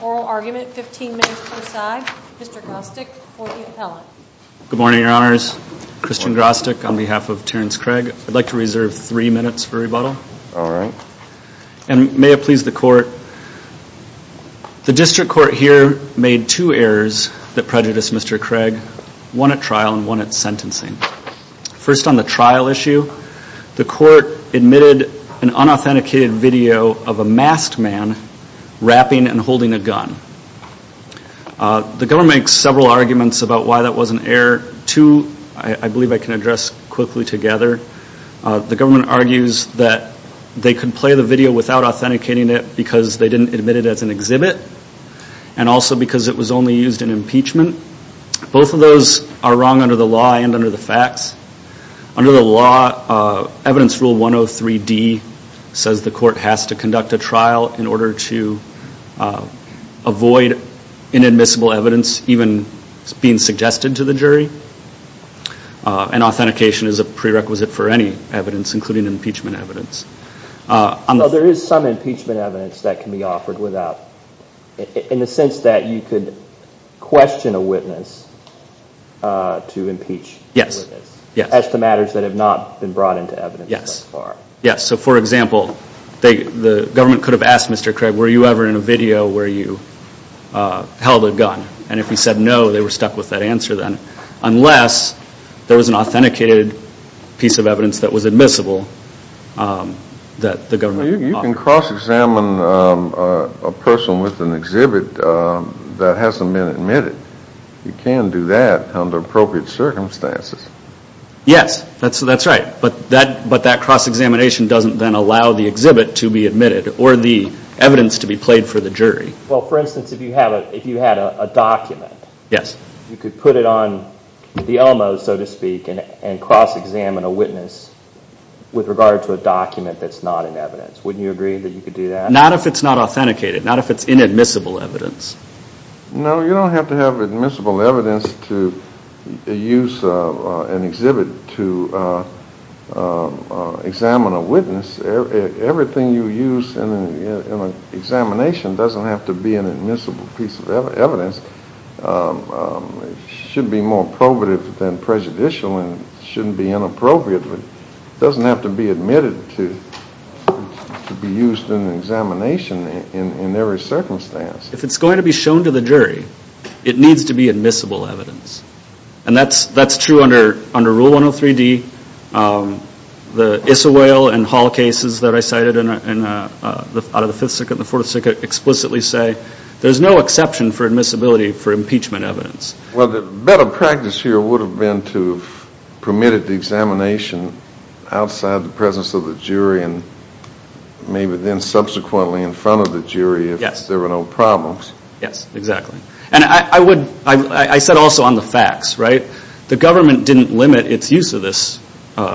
oral argument, 15 minutes per side. Mr. Grostick will be the appellant. Good morning, your honors. Christian Grostick on behalf of Terrance Craig. I'd like to reserve three minutes for rebuttal. All right. And may it please the court, the district court here made two errors that prejudiced Mr. Craig, one at trial and one at sentencing. First on the trial issue, the court admitted an unauthenticated video of a masked man wrapping and holding a gun. The government makes several arguments about why that was an error. Two I believe I can address quickly together. The government argues that they could play the video without authenticating it because they didn't admit it as an exhibit and also because it was only used in impeachment. Both of those are wrong under the law and under the facts. Under the law, evidence rule 103D says the court has to conduct a trial in order to avoid inadmissible evidence even being suggested to the jury. And authentication is a prerequisite for any evidence including impeachment evidence. So there is some impeachment evidence that can be offered without, in the sense that you could question a witness to impeach. Yes. As to matters that have not been brought into evidence thus far. Yes. So for example, the government could have asked Mr. Craig, were you ever in a video where you held a gun? And if he said no, they were stuck with that answer then. Unless there was an authenticated piece of evidence that was admissible that the government offered. You can cross examine a person with an exhibit that hasn't been admitted. You can do that under appropriate circumstances. Yes, that's right. But that cross examination doesn't then allow the exhibit to be admitted or the evidence to be played for the jury. Well, for instance, if you had a document, you could put it on the ELMO so with regard to a document that's not in evidence. Wouldn't you agree that you could do that? Not if it's not authenticated. Not if it's inadmissible evidence. No, you don't have to have admissible evidence to use an exhibit to examine a witness. Everything you use in an examination doesn't have to be an admissible piece of evidence. It should be more probative than prejudicial and shouldn't be inappropriate. It doesn't have to be admitted to be used in an examination in every circumstance. If it's going to be shown to the jury, it needs to be admissible evidence. And that's true under Rule 103-D. The Isawail and Hall cases that I cited out of the 5th Circuit and the 4th Circuit explicitly say there's no exception for admissibility for impeachment evidence. Well, the better practice here would have been to have permitted the examination outside the presence of the jury and maybe then subsequently in front of the jury if there were no problems. Yes, exactly. And I would, I said also on the facts, right? The government didn't limit its use of this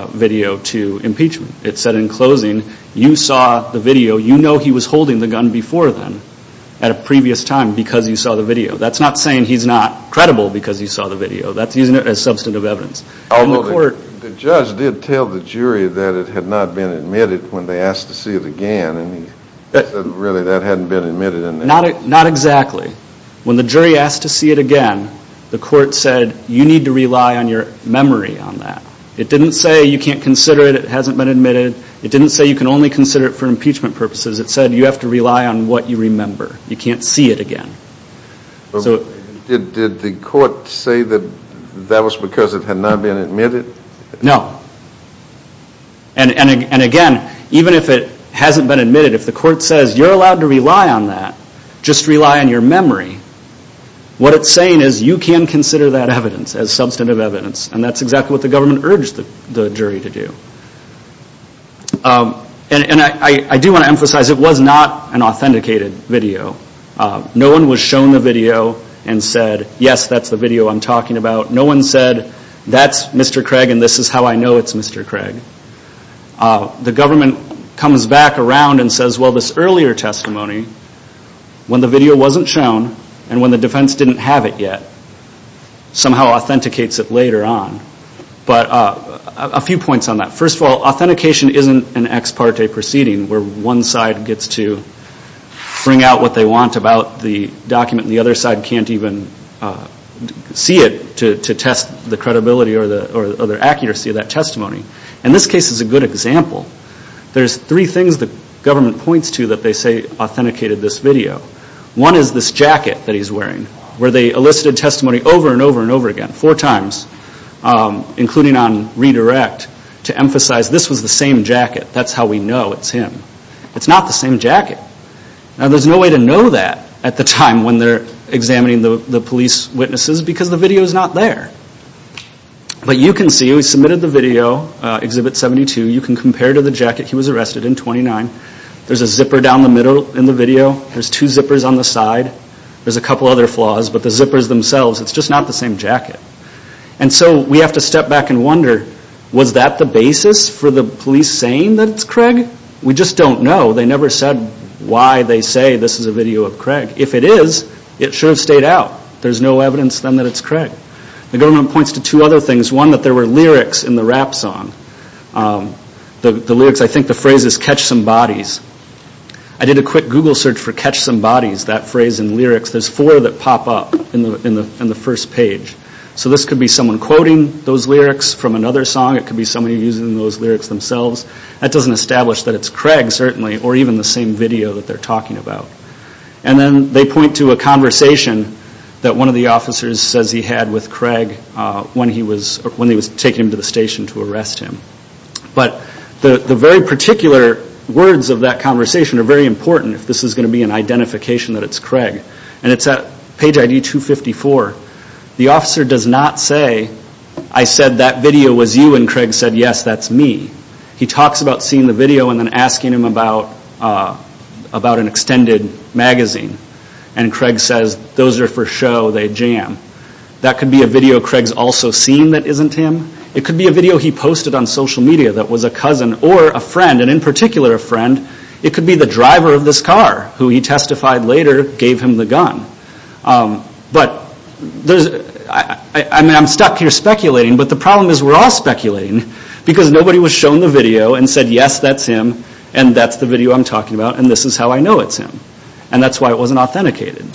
video to impeachment. It said in closing, you saw the video, you know he was holding the gun before then at a previous time because you saw the video. That's not saying he's not credible because you saw the video. That's using it as substantive evidence. Although the judge did tell the jury that it had not been admitted when they asked to see it again and he said really that hadn't been admitted in the case. Not exactly. When the jury asked to see it again, the court said you need to rely on your memory on that. It didn't say you can't consider it, it hasn't been admitted. It didn't say you can only consider it for impeachment purposes. It said you have to rely on what you remember. You can't see it again. So. Did the court say that that was because it had not been admitted? No. And again, even if it hasn't been admitted, if the court says you're allowed to rely on that, just rely on your memory, what it's saying is you can consider that evidence as substantive evidence and that's exactly what the government urged the jury to do. And I do want to emphasize it was not an authenticated video. No one was shown the video and said yes that's the video I'm talking about. No one said that's Mr. Craig and this is how I know it's Mr. Craig. The government comes back around and says well this earlier testimony, when the video wasn't shown and when the defense didn't have it yet, somehow authenticates it later on. But a few points on that. First of all, authentication isn't an ex parte proceeding where one side gets to bring out what they want about the document and the other side can't even see it to test the credibility or the accuracy of that testimony. And this case is a good example. There's three things the government points to that they say authenticated this video. One is this jacket that he's wearing, where they elicited testimony over and over and over again, four times, including on redirect, to emphasize this was the same jacket, that's how we know it's him. It's not the same jacket. Now there's no way to know that at the time when they're examining the police witnesses because the video's not there. But you can see, we submitted the video, Exhibit 72, you can compare to the jacket, he was arrested in 29. There's a zipper down the middle in the video, there's two zippers on the side, there's a couple other flaws, but the zippers themselves, it's just not the same jacket. And so we have to step back and wonder, was that the basis for the police saying that it's Craig? We just don't know. They never said why they say this is a video of Craig. If it is, it should have stayed out. There's no evidence then that it's Craig. The government points to two other things. One, that there were lyrics in the rap song. The lyrics, I think the phrase is, catch some bodies. I did a quick Google search for catch some bodies, that phrase in the lyrics. There's four that pop up in the first page. So this could be someone quoting those lyrics from another song, it could be someone using those lyrics themselves. That doesn't establish that it's Craig, certainly, or even the same video that they're talking about. And then they point to a conversation that one of the officers says he had with Craig when he was taken to the station to arrest him. But the very particular words of that conversation are very important if this is going to be an identification that it's Craig. And it's at page ID 254. The officer does not say, I said that video was you and Craig said yes, that's me. He talks about seeing the video and then asking him about an extended magazine. And Craig says, those are for show, they jam. That could be a video Craig's also seen that could be a video he posted on social media that was a cousin or a friend, and in particular a friend, it could be the driver of this car who he testified later gave him the gun. But there's, I'm stuck here speculating, but the problem is we're all speculating because nobody was shown the video and said yes, that's him and that's the video I'm talking about and this is how I know it's him. And that's why it wasn't authenticated.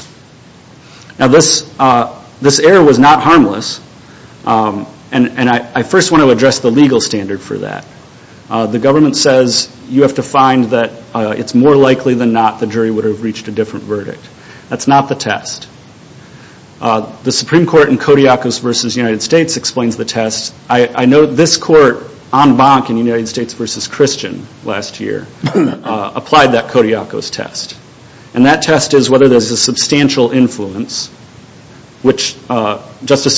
Now this error was not harmless and I first want to address the legal standard for that. The government says you have to find that it's more likely than not the jury would have reached a different verdict. That's not the test. The Supreme Court in Kodiakos v. United States explains the test. I know this court en banc in United States v. Christian last year applied that Justice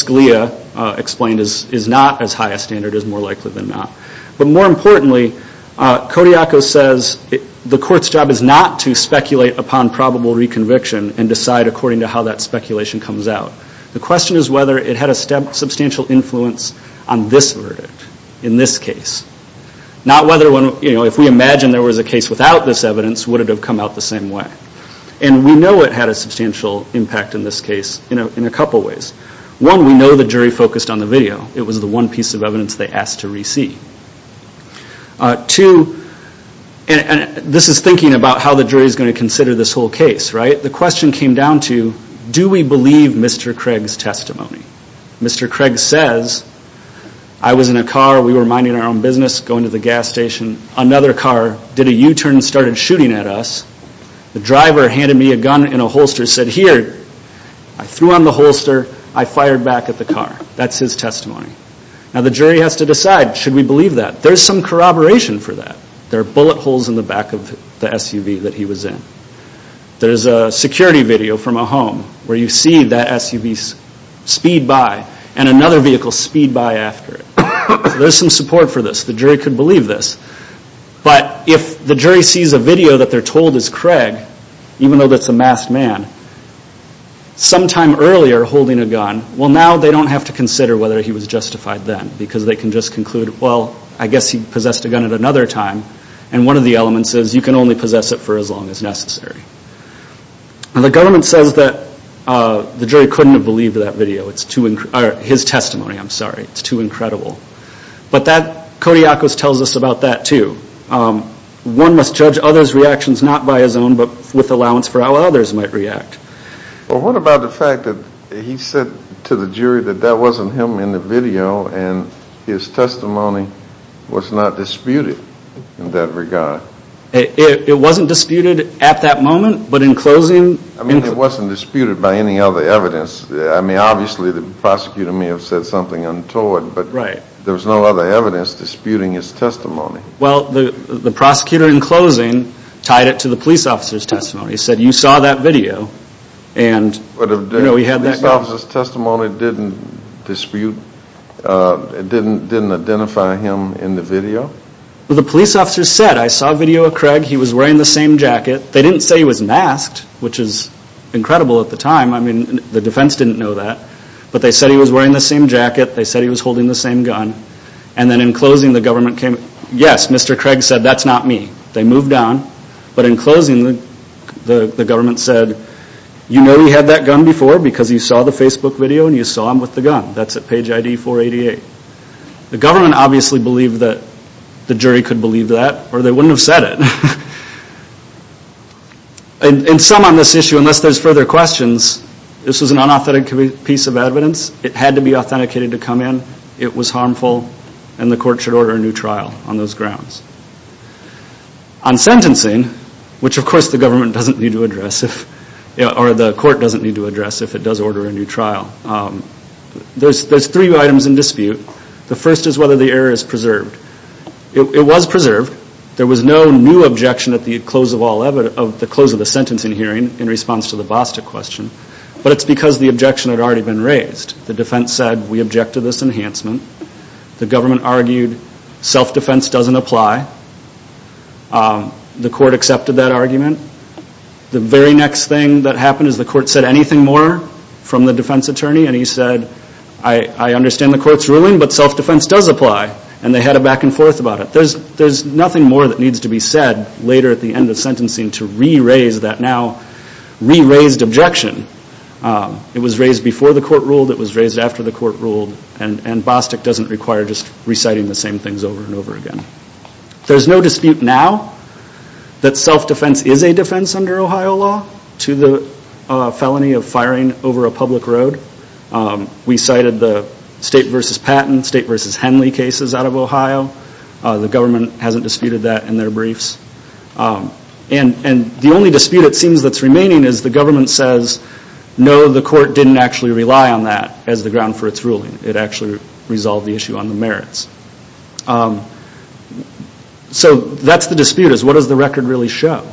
Scalia explained is not as high a standard as more likely than not. But more importantly, Kodiakos says the court's job is not to speculate upon probable reconviction and decide according to how that speculation comes out. The question is whether it had a substantial influence on this verdict, in this case. Not whether, you know, if we imagine there was a case without this evidence, would it have come out the same way? And we know it had a substantial impact in this case in a couple ways. One, we know the jury focused on the video. It was the one piece of evidence they asked to re-see. Two, and this is thinking about how the jury is going to consider this whole case, right? The question came down to do we believe Mr. Craig's testimony? Mr. Craig says, I was in a car, we were minding our own business, going to the gas station. Another car did a U-turn and started shooting at us. The driver handed me a gun and a holster, said, here, I threw on the holster, I fired back at the car. That's his testimony. Now the jury has to decide, should we believe that? There's some corroboration for that. There are bullet holes in the back of the SUV that he was in. There's a security video from a home where you see that SUV speed by and another vehicle speed by after it. There's some support for this. The jury could believe this. But if the jury sees a video that they're told is Craig, even though that's a masked man, sometime earlier holding a gun, well now they don't have to consider whether he was justified then because they can just conclude, well, I guess he possessed a gun at another time and one of the elements is you can only possess it for as long as necessary. The government says that the jury couldn't have believed that video, his testimony, I'm sorry. It's about that too. One must judge others' reactions not by his own but with allowance for how others might react. Well what about the fact that he said to the jury that that wasn't him in the video and his testimony was not disputed in that regard? It wasn't disputed at that moment but in closing... I mean it wasn't disputed by any other evidence. I mean obviously the prosecutor may have said something untoward but there was no other evidence disputing his testimony. Well the prosecutor in closing tied it to the police officer's testimony. He said you saw that video and... But if the police officer's testimony didn't dispute, didn't identify him in the video? Well the police officer said I saw a video of Craig, he was wearing the same jacket. They didn't say he was masked which is incredible at the time. I mean the defense didn't know that but they said he was wearing the same jacket, they said he was holding the same gun and then in closing the government came... Yes, Mr. Craig said that's not me. They moved on but in closing the government said you know he had that gun before because you saw the Facebook video and you saw him with the gun. That's at page ID 488. The government obviously believed that the jury could believe that or they wouldn't have said it. And some on this issue, unless there's further questions, this was an unauthentic piece of evidence. It had to be authenticated to come in. It was harmful and the court should order a new trial on those grounds. On sentencing, which of course the government doesn't need to address or the court doesn't need to address if it does order a new trial, there's three items in dispute. The first is whether the error is preserved. It was preserved. There was no new objection at the close of the sentencing hearing in response to the BASTA question. But it's because the objection had already been raised. The defense said we object to this enhancement. The government argued self-defense doesn't apply. The court accepted that argument. The very next thing that happened is the court said anything more from the defense attorney and he said I understand the court's ruling but self-defense does apply. And they had a back and forth about it. There's nothing more that needs to be said later at the end of sentencing to re-raise that now re-raised objection. It was raised before the court ruled. It was raised after the court ruled. And BOSTEC doesn't require just reciting the same things over and over again. There's no dispute now that self-defense is a defense under Ohio law to the felony of firing over a public road. We cited the State v. Patton, State v. Henley cases out of Ohio. The government hasn't disputed that in their briefs. And the only dispute it seems that's remaining is the government says no the court didn't actually rely on that as the ground for its ruling. It actually resolved the issue on the merits. So that's the dispute is what does the record really show?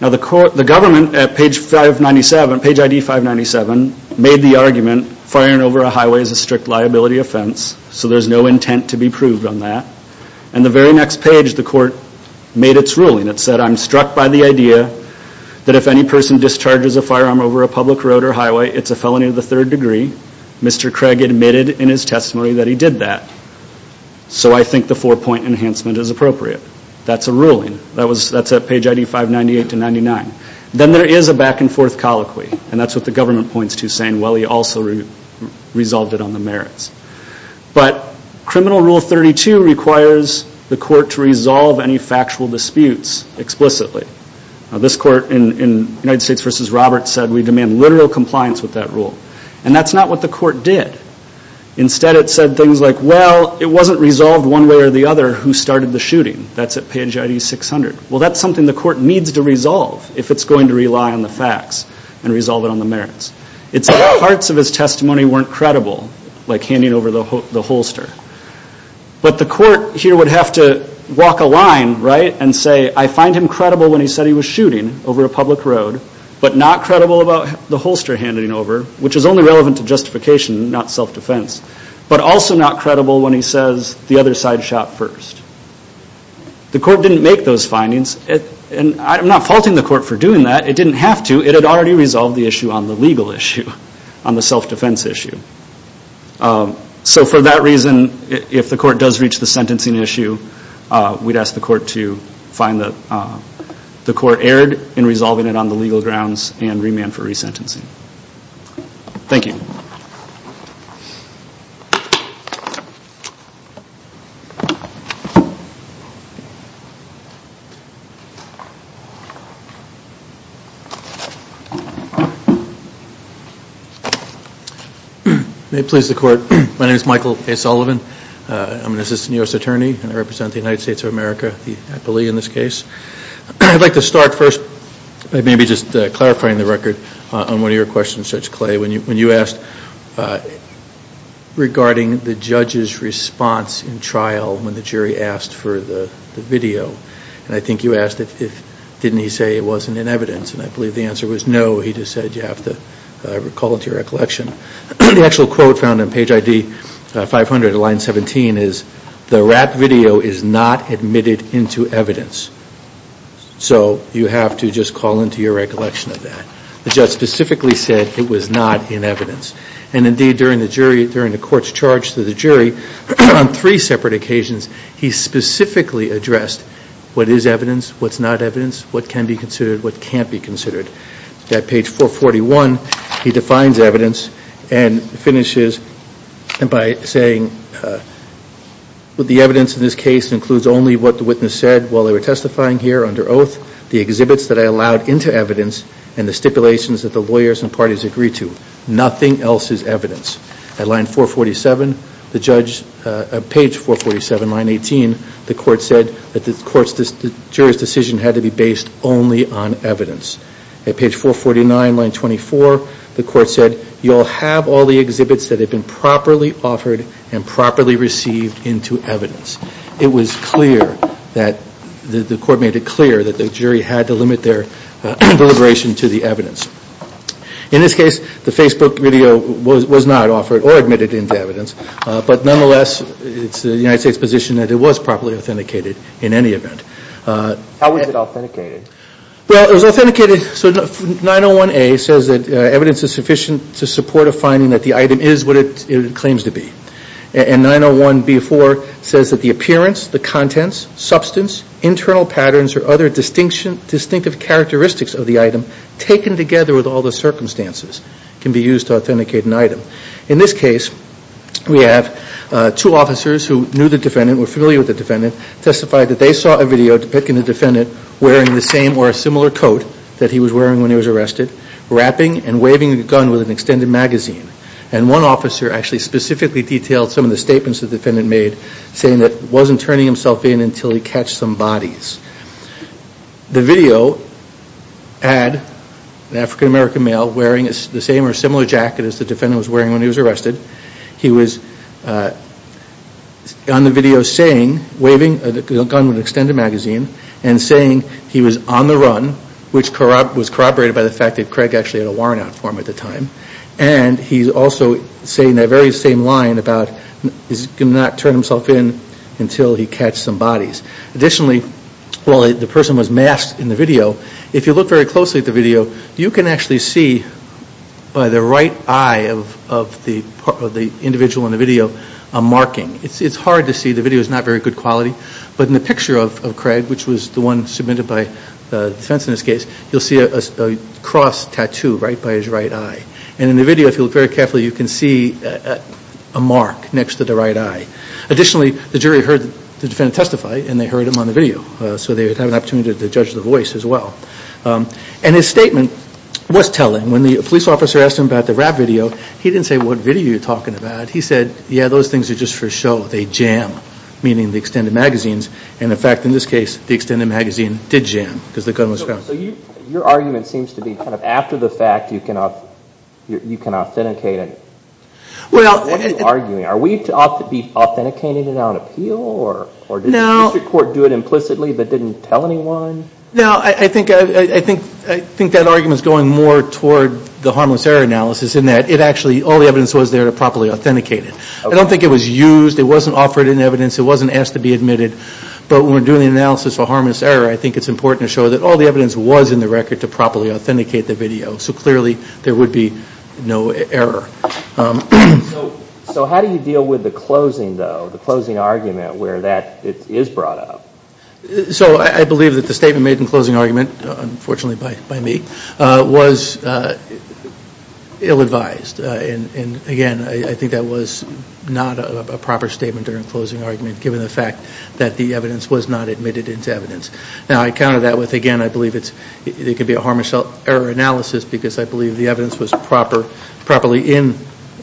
Now the government at page 597, page ID 597 made the argument firing over a highway is a strict liability offense. So there's no intent to be proved on that. And the very next page the court made its ruling. It said I'm struck by the idea that if any person discharges a firearm over a public road or highway it's a felony of the third degree. Mr. Craig admitted in his testimony that he did that. So I think the four point enhancement is appropriate. That's a ruling. That's at page ID 598-99. Then there is a back and forth colloquy. And that's what the government points to saying well he also resolved it on the merits. But criminal rule 32 requires the court to resolve any factual disputes explicitly. Now this court in United States v. Roberts said we demand literal compliance with that rule. And that's not what the court did. Instead it said things like well it wasn't resolved one way or the other who started the shooting. That's at page ID 600. Well that's something the court needs to resolve if it's going to do that. Parts of his testimony weren't credible like handing over the holster. But the court here would have to walk a line, right, and say I find him credible when he said he was shooting over a public road but not credible about the holster handing over which is only relevant to justification not self-defense. But also not credible when he says the other side shot first. The court didn't make those findings. And I'm not faulting the court for the legal issue on the self-defense issue. So for that reason if the court does reach the sentencing issue we'd ask the court to find the court erred in resolving it on the legal grounds and remand for resentencing. Thank you. May it please the court. My name is Michael A. Sullivan. I'm an assistant U.S. attorney and I represent the United States of America, the Appellee in this case. I'd like to start first by maybe just clarifying the record on one of your questions, Judge Clay, when you asked regarding the judge's response in trial when the jury asked for the video. And I think you asked if didn't he say it wasn't in evidence. And I believe the answer was no. He just said you have to recall into your recollection. The actual quote found on page ID 500 of line 17 is the rap video is not admitted into evidence. So you have to just call into your recollection of that. The judge specifically said it was not in evidence. And indeed during the jury during the court's charge to the jury on three separate occasions he specifically addressed what is evidence, what's not evidence, what can be considered. At page 441 he defines evidence and finishes by saying the evidence in this case includes only what the witness said while they were testifying here under oath, the exhibits that I allowed into evidence, and the stipulations that the lawyers and parties agreed to. Nothing else is evidence. At line 447 the judge page 447 line 18 the court said that the jury's decision had to be based only on evidence. At page 449 line 24 the court said you'll have all the exhibits that have been properly offered and properly received into evidence. It was clear that the court made it clear that the jury had to limit their deliberation to the evidence. In this case the Facebook video was not offered or admitted into evidence. But nonetheless it's the United States position that it was properly authenticated in any event. How was it authenticated? Well it was authenticated so 901A says that evidence is sufficient to support a finding that the item is what it claims to be. And 901B4 says that the appearance, the contents, substance, internal patterns, or other distinctive characteristics of the item taken together with all the circumstances can be used to authenticate an item. In this case we have two officers who knew the defendant, were familiar with the defendant, testified that they saw a video depicting the defendant wearing the same or a similar coat that he was wearing when he was arrested, wrapping and waving a gun with an extended magazine. And one officer actually specifically detailed some of the statements the defendant made saying that he wasn't turning himself in until he catched some bodies. The video had an African American male wearing the same or similar jacket as the defendant was wearing when he was arrested. He was on the video saying, waving a gun with an extended magazine, and saying he was on the run, which was corroborated by the fact that Craig actually had a warrant out for him at the time. And he's also saying that very same line about he's not going to turn himself in until he catched some bodies. Additionally, while the person was masked in the video, if you look very closely at the video, you can actually see by the right eye of the individual in the video a marking. It's hard to see. The video is not very good quality. But in the picture of Craig, which was the one submitted by defense in this case, you'll see a cross tattoo right by his right eye. And in the picture of Craig, you'll see a cross tattoo right next to the right eye. Additionally, the jury heard the defendant testify, and they heard him on the video. So they had an opportunity to judge the voice as well. And his statement was telling. When the police officer asked him about the rap video, he didn't say what video you're talking about. He said, yeah, those things are just for show. They jam, meaning the extended magazines. And in fact, in this case, the extended magazine did jam because the gun was found. Your argument seems to be after the fact, you can authenticate it. What are you arguing? Are we to be authenticating it on appeal? Or did the district court do it implicitly but didn't tell anyone? No, I think that argument is going more toward the harmless error analysis in that it actually, all the evidence was there to properly authenticate it. I don't think it was used. It wasn't offered in evidence. It wasn't asked to be admitted. But when we're doing the analysis for harmless error, I think it's important to show that all the evidence was in the record to properly authenticate the video. So clearly, there would be no error. So how do you deal with the closing though, the closing argument where that is brought up? So I believe that the statement made in closing argument, unfortunately by me, was ill-advised. And again, I think that was not a proper statement during closing argument given the fact that the evidence was not admitted into evidence. Now I counter that with, again, I believe it could be a harmless error analysis because I believe the evidence was properly in,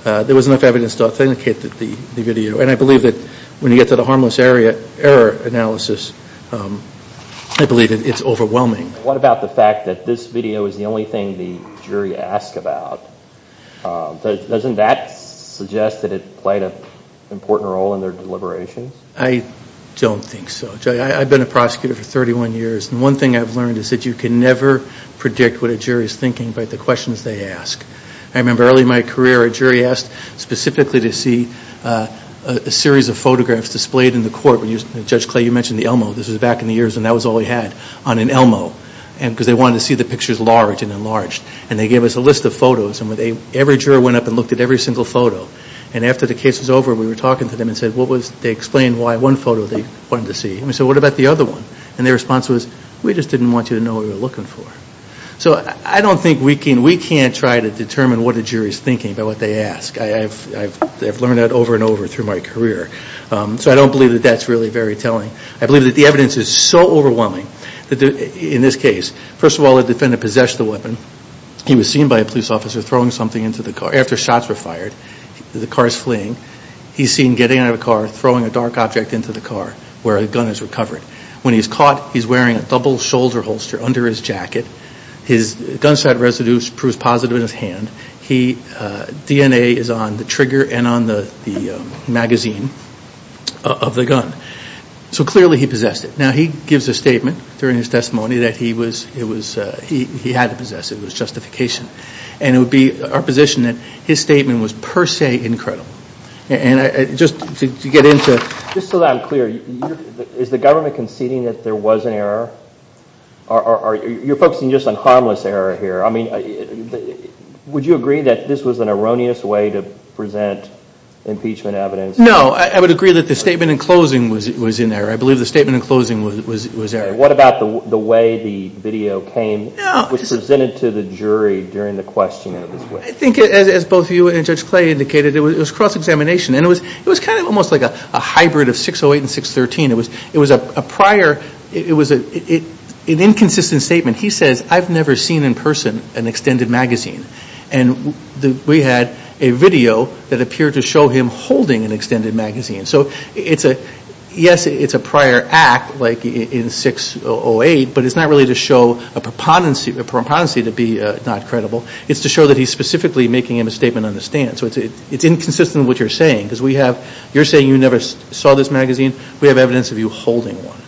there was enough evidence to authenticate the video. And I believe that when you get to the harmless error analysis, I believe that it's overwhelming. What about the fact that this video is the only thing the jury asked about? Doesn't that suggest that it played an important role in their deliberations? I don't think so. I've been a prosecutor for 31 years and one thing I've learned is that you can never predict what a jury is thinking by the questions they ask. I remember early in my career, a jury asked specifically to see a series of photographs displayed in the court. Judge Clay, you mentioned the Elmo. This was back in the years when that was all we had on an Elmo because they wanted to see the pictures large and enlarged. And they gave us a list of photos and every juror went up and looked at every single photo. And after the case was over, we were talking to them and said, what was, they explained why one photo they wanted to see. And we said, what about the other one? And their response was, we just didn't want you to know what we were looking for. So I don't think we can, we can't try to determine what a jury is thinking by what they ask. I've learned that over and over through my career. So I don't believe that that's really very telling. I believe that the evidence is so overwhelming that in this case, first of all, the defendant possessed the weapon. He was seen by a police officer throwing something into the car. After shots were fired, the car is fleeing. He's seen getting out of the car, throwing a dark object into the car where a gun is recovered. When he's caught, he's wearing a double shoulder holster under his jacket. His gunshot residue proves positive in his hand. He, DNA is on the trigger and on the magazine of the gun. So clearly he possessed it. Now, he gives a statement during his testimony that he was, it was, he had to possess it. It was justification. And it would be our position that his statement was per se incredible. And I, just to get into, just so that I'm clear, is the government conceding that there was an error? Or are you, you're focusing just on harmless error here? I mean, would you agree that this was an erroneous way to present impeachment evidence? No, I would agree that the statement in closing was, was in error. I believe the statement in closing was, was, was error. What about the, the way the video came, was presented to the jury during the question of his weapon? I think as, as both you and Judge Clay indicated, it was cross-examination. And it was, it was kind of almost like a hybrid of 608 and 613. It was, it was a prior, it was a, it, it, an inconsistent statement. He says, I've never seen in person an extended magazine. And the, we had a video that appeared to show him holding an extended magazine. So it's a, yes, it's a prior act, like in 608, but it's not really to show a proponency, a proponency to be not credible. It's to show that he's specifically making a misstatement on the stand. So it's, it's inconsistent with what you're saying. Because we have, you're saying you never saw this magazine. We have evidence of you holding one.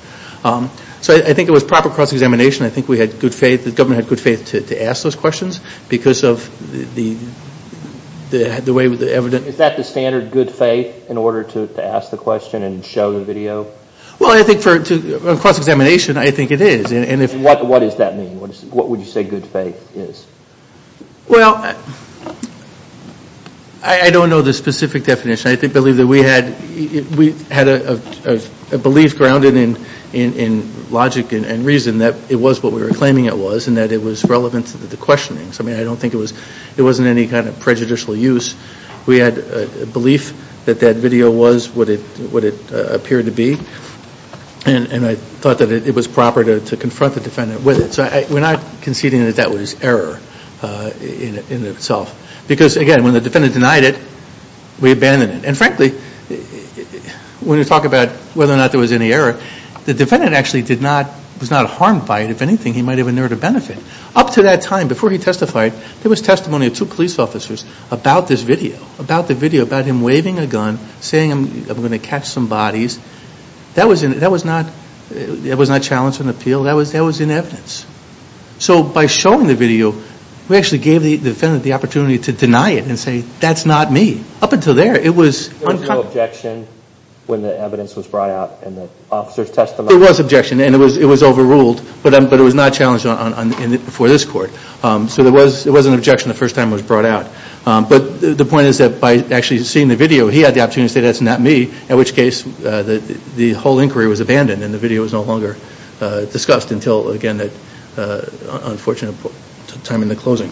So I, I think it was proper cross-examination. I think we had good faith, the government had good faith to, to ask those questions because of the, the, the way the evidence. Is that the standard good faith in order to, to ask the question and show the video? Well, I think for, to, cross-examination, I think it is. And, and if. And what, what does that mean? What is, what would you say good faith is? Well, I, I don't know the specific definition. I think, believe that we had, we had a, a, a belief grounded in, in, in logic and, and reason that it was what we were claiming it was and that it was relevant to the questionings. I mean, I don't think it was, it wasn't any kind of prejudicial use. We had a belief that that video was what it, what it appeared to be. And, and I thought that it, it was proper to, to confront the defendant with it. So I, I, we're not conceding that that was error in, in itself. Because again, when the defendant denied it, we abandoned it. And frankly, when you talk about whether or not there was any error, the defendant actually did not, was not harmed by it. If anything, he might have been there to benefit. Up to that time, before he testified, there was testimony of two police officers about this video, about the video, about him waving a gun, saying I'm, I'm gonna catch some bodies. That was in, that was not, it was not challenged on appeal. That was, that was in evidence. So by showing the video, we actually gave the, the defendant the opportunity to deny it and say, that's not me. Up until there, it was uncovered. There was no objection when the evidence was brought out and the officers testified? There was objection and it was, it was overruled. But, but it was not challenged on, on, on, before this court. So there was, there was an objection the first time it was brought out. But the point is that by actually seeing the video, he had the opportunity to say that's not me. In which case, the, the whole inquiry was abandoned and the video was no longer discussed until, again, that unfortunate time in the closing.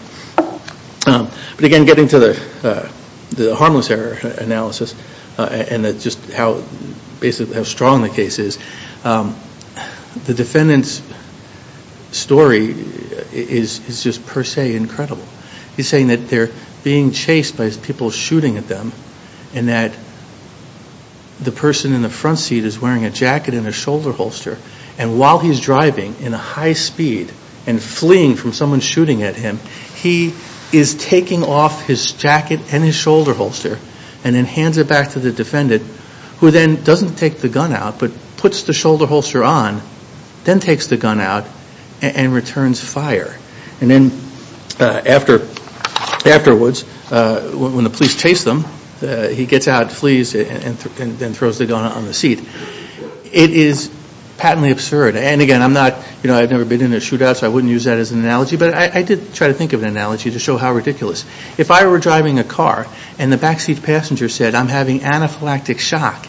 But again, getting to the, the harmless error analysis and that just how, basically how strong the case is. The defendant's story is, is just per se incredible. He's saying that they're being chased by people shooting at them. And that the person in the front seat is wearing a jacket and a shoulder holster. And while he's driving in a high speed and fleeing from someone shooting at him, he is taking off his jacket and his shoulder holster. And then hands it back to the defendant who then doesn't take the gun out but puts the shoulder holster on. Then takes the gun out and returns fire. And then after, afterwards, when the police chase them, he gets out, flees and then throws the gun on the seat. It is patently absurd. And again, I'm not, you know, I've never been in a shootout so I wouldn't use that as an analogy. But I did try to think of an analogy to show how ridiculous. If I were driving a car and the backseat passenger said I'm having anaphylactic shock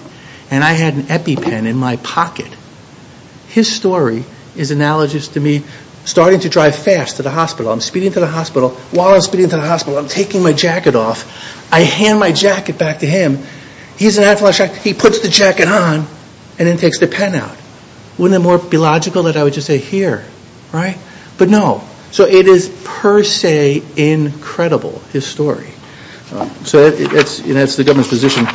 and I had an EpiPen in my pocket, his story is analogous to me starting to drive fast to the hospital. I'm speeding to the hospital. While I'm speeding to the hospital, I'm taking my jacket off. I hand my jacket back to him. He's in anaphylactic shock. He puts the jacket on and then takes the pen out. Wouldn't it be more logical that I would just say here, right? But no. So it is per se incredible, his story. So that's the government's position.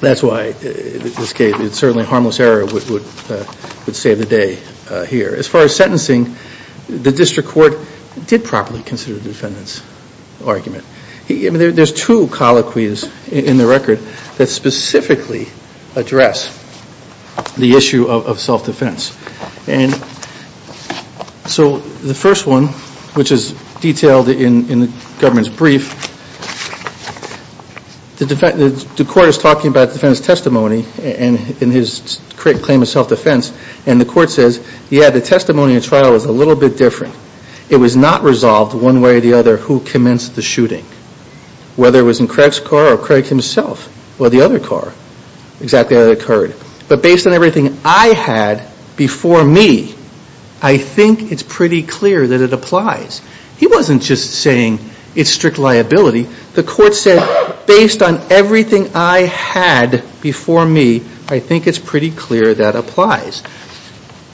That's why, in this case, it's certainly a harmless error would save the day here. As far as sentencing, the district court did properly consider the defendant's argument. There's two colloquies in the record that specifically address the The court is talking about the defendant's testimony in his claim of self-defense and the court says, yeah, the testimony in trial is a little bit different. It was not resolved one way or the other who commenced the shooting. Whether it was in Craig's car or Craig himself or the other car, exactly how it occurred. But based on everything I had before me, I wasn't just saying it's strict liability. The court said, based on everything I had before me, I think it's pretty clear that applies.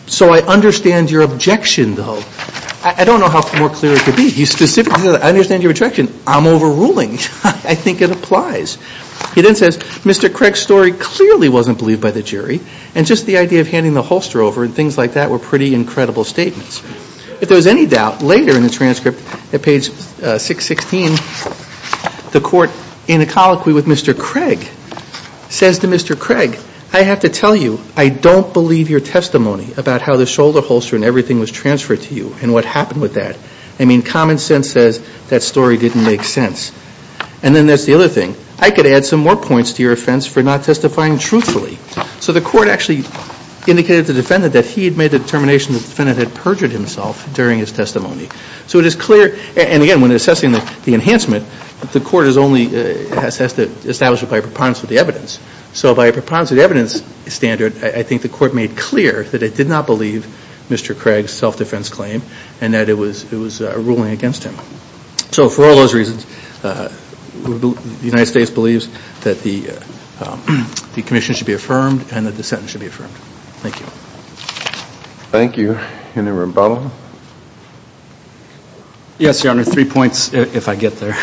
So I understand your objection, though. I don't know how more clear it could be. He specifically said, I understand your objection. I'm overruling. I think it applies. He then says, Mr. Craig's story clearly wasn't believed by the jury and just the idea of handing the holster over and things like that were pretty incredible statements. If there was any doubt, later in the transcript at page 616, the court in a colloquy with Mr. Craig says to Mr. Craig, I have to tell you, I don't believe your testimony about how the shoulder holster and everything was transferred to you and what happened with that. I mean, common sense says that story didn't make sense. And then there's the other thing. I could add some more points to your offense for not testifying truthfully. So the court actually indicated to the defendant that he had made the determination that the defendant had perjured himself during his testimony. So it is clear, and again, when assessing the enhancement, the court has only established it by a preponderance of the evidence. So by a preponderance of the evidence standard, I think the court made clear that it did not believe Mr. Craig's self-defense claim and that it was a ruling against him. So for all those reasons, the United States believes that the commission should be affirmed and that the sentence should be affirmed. Thank you. Thank you. Mr. Rimbaud? Yes, Your Honor. Three points, if I get there.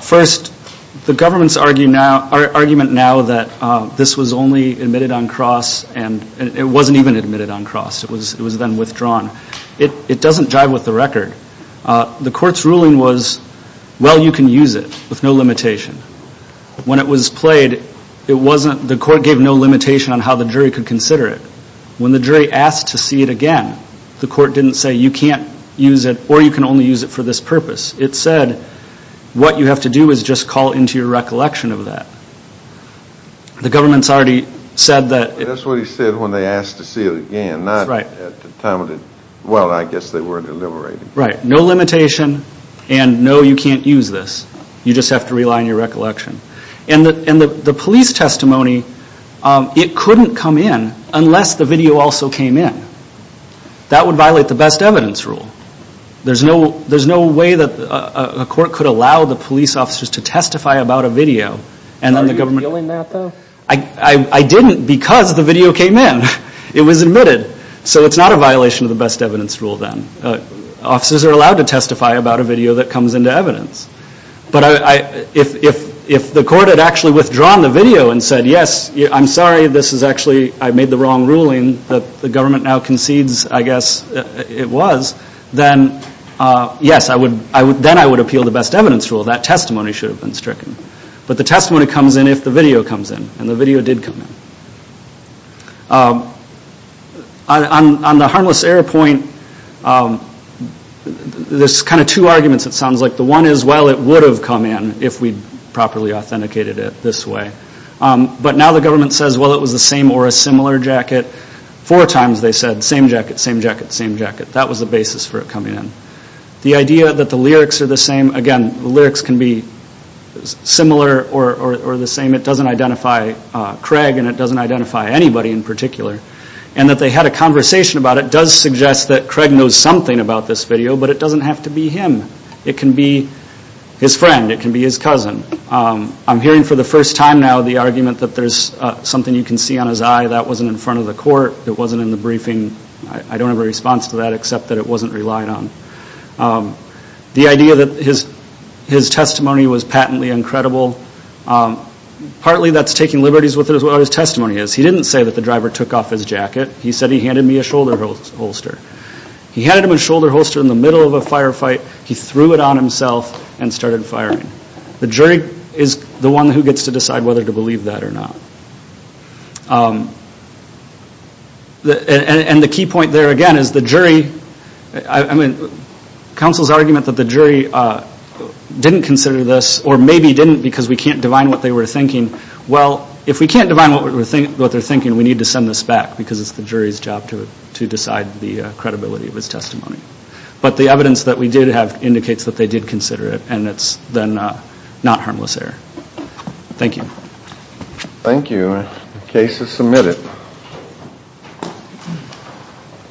First, the government's argument now that this was only admitted on cross and it wasn't even admitted on cross. It was then withdrawn. It doesn't jive with the record. The court's ruling was, well, you can use it with no limitation. When it was played, the court gave no limitation on how the jury could consider it. When the jury asked to see it again, the court didn't say, you can't use it or you can only use it for this purpose. It said, what you have to do is just call into your recollection of that. The government's already said that... That's what he said when they asked to see it again, not at the time of the... Well, I guess they were deliberating. Right. No limitation and no, you can't use this. You just have to rely on your recollection. And the police testimony, it couldn't come in unless the video also came in. That would violate the best evidence rule. There's no way that a court could allow the police officers to testify about a video and then the government... Are you doing that, though? I didn't because the video came in. It was admitted. So it's not a violation of the best evidence. Officers are allowed to testify about a video that comes into evidence. But if the court had actually withdrawn the video and said, yes, I'm sorry, this is actually... I made the wrong ruling that the government now concedes, I guess, it was, then yes, then I would appeal the best evidence rule. That testimony should have been stricken. But the testimony comes in if the video comes in and the video did come in. On the harmless error point, there's kind of two arguments it sounds like. The one is, well, it would have come in if we'd properly authenticated it this way. But now the government says, well, it was the same or a similar jacket. Four times they said, same jacket, same jacket, same jacket. That was the basis for it coming in. The idea that the lyrics are the same, again, the lyrics can be similar or the same. It doesn't identify Craig and it doesn't identify anybody in particular. And that they had a conversation about it does suggest that Craig knows something about this video, but it doesn't have to be him. It can be his friend. It can be his cousin. I'm hearing for the first time now the argument that there's something you can see on his eye. That wasn't in front of the court. It wasn't in the briefing. I don't have a response to that except that it wasn't relied on. The idea that his testimony was patently uncredible, partly that's taking liberties with what his testimony is. He didn't say that the driver took off his jacket. He said he handed me a shoulder holster. He handed him a shoulder holster in the middle of a firefight. He threw it on himself and started firing. The jury is the one who gets to decide whether to believe that or not. And the key point there, again, is the jury, I mean, counsel's argument that the jury didn't consider this or maybe didn't because we can't divine what they were thinking. Well, if we can't divine what they're thinking, we need to send this back because it's the jury's job to decide the credibility of his testimony. But the evidence that we did have indicates that they did consider it and it's then not harmless error. Thank you.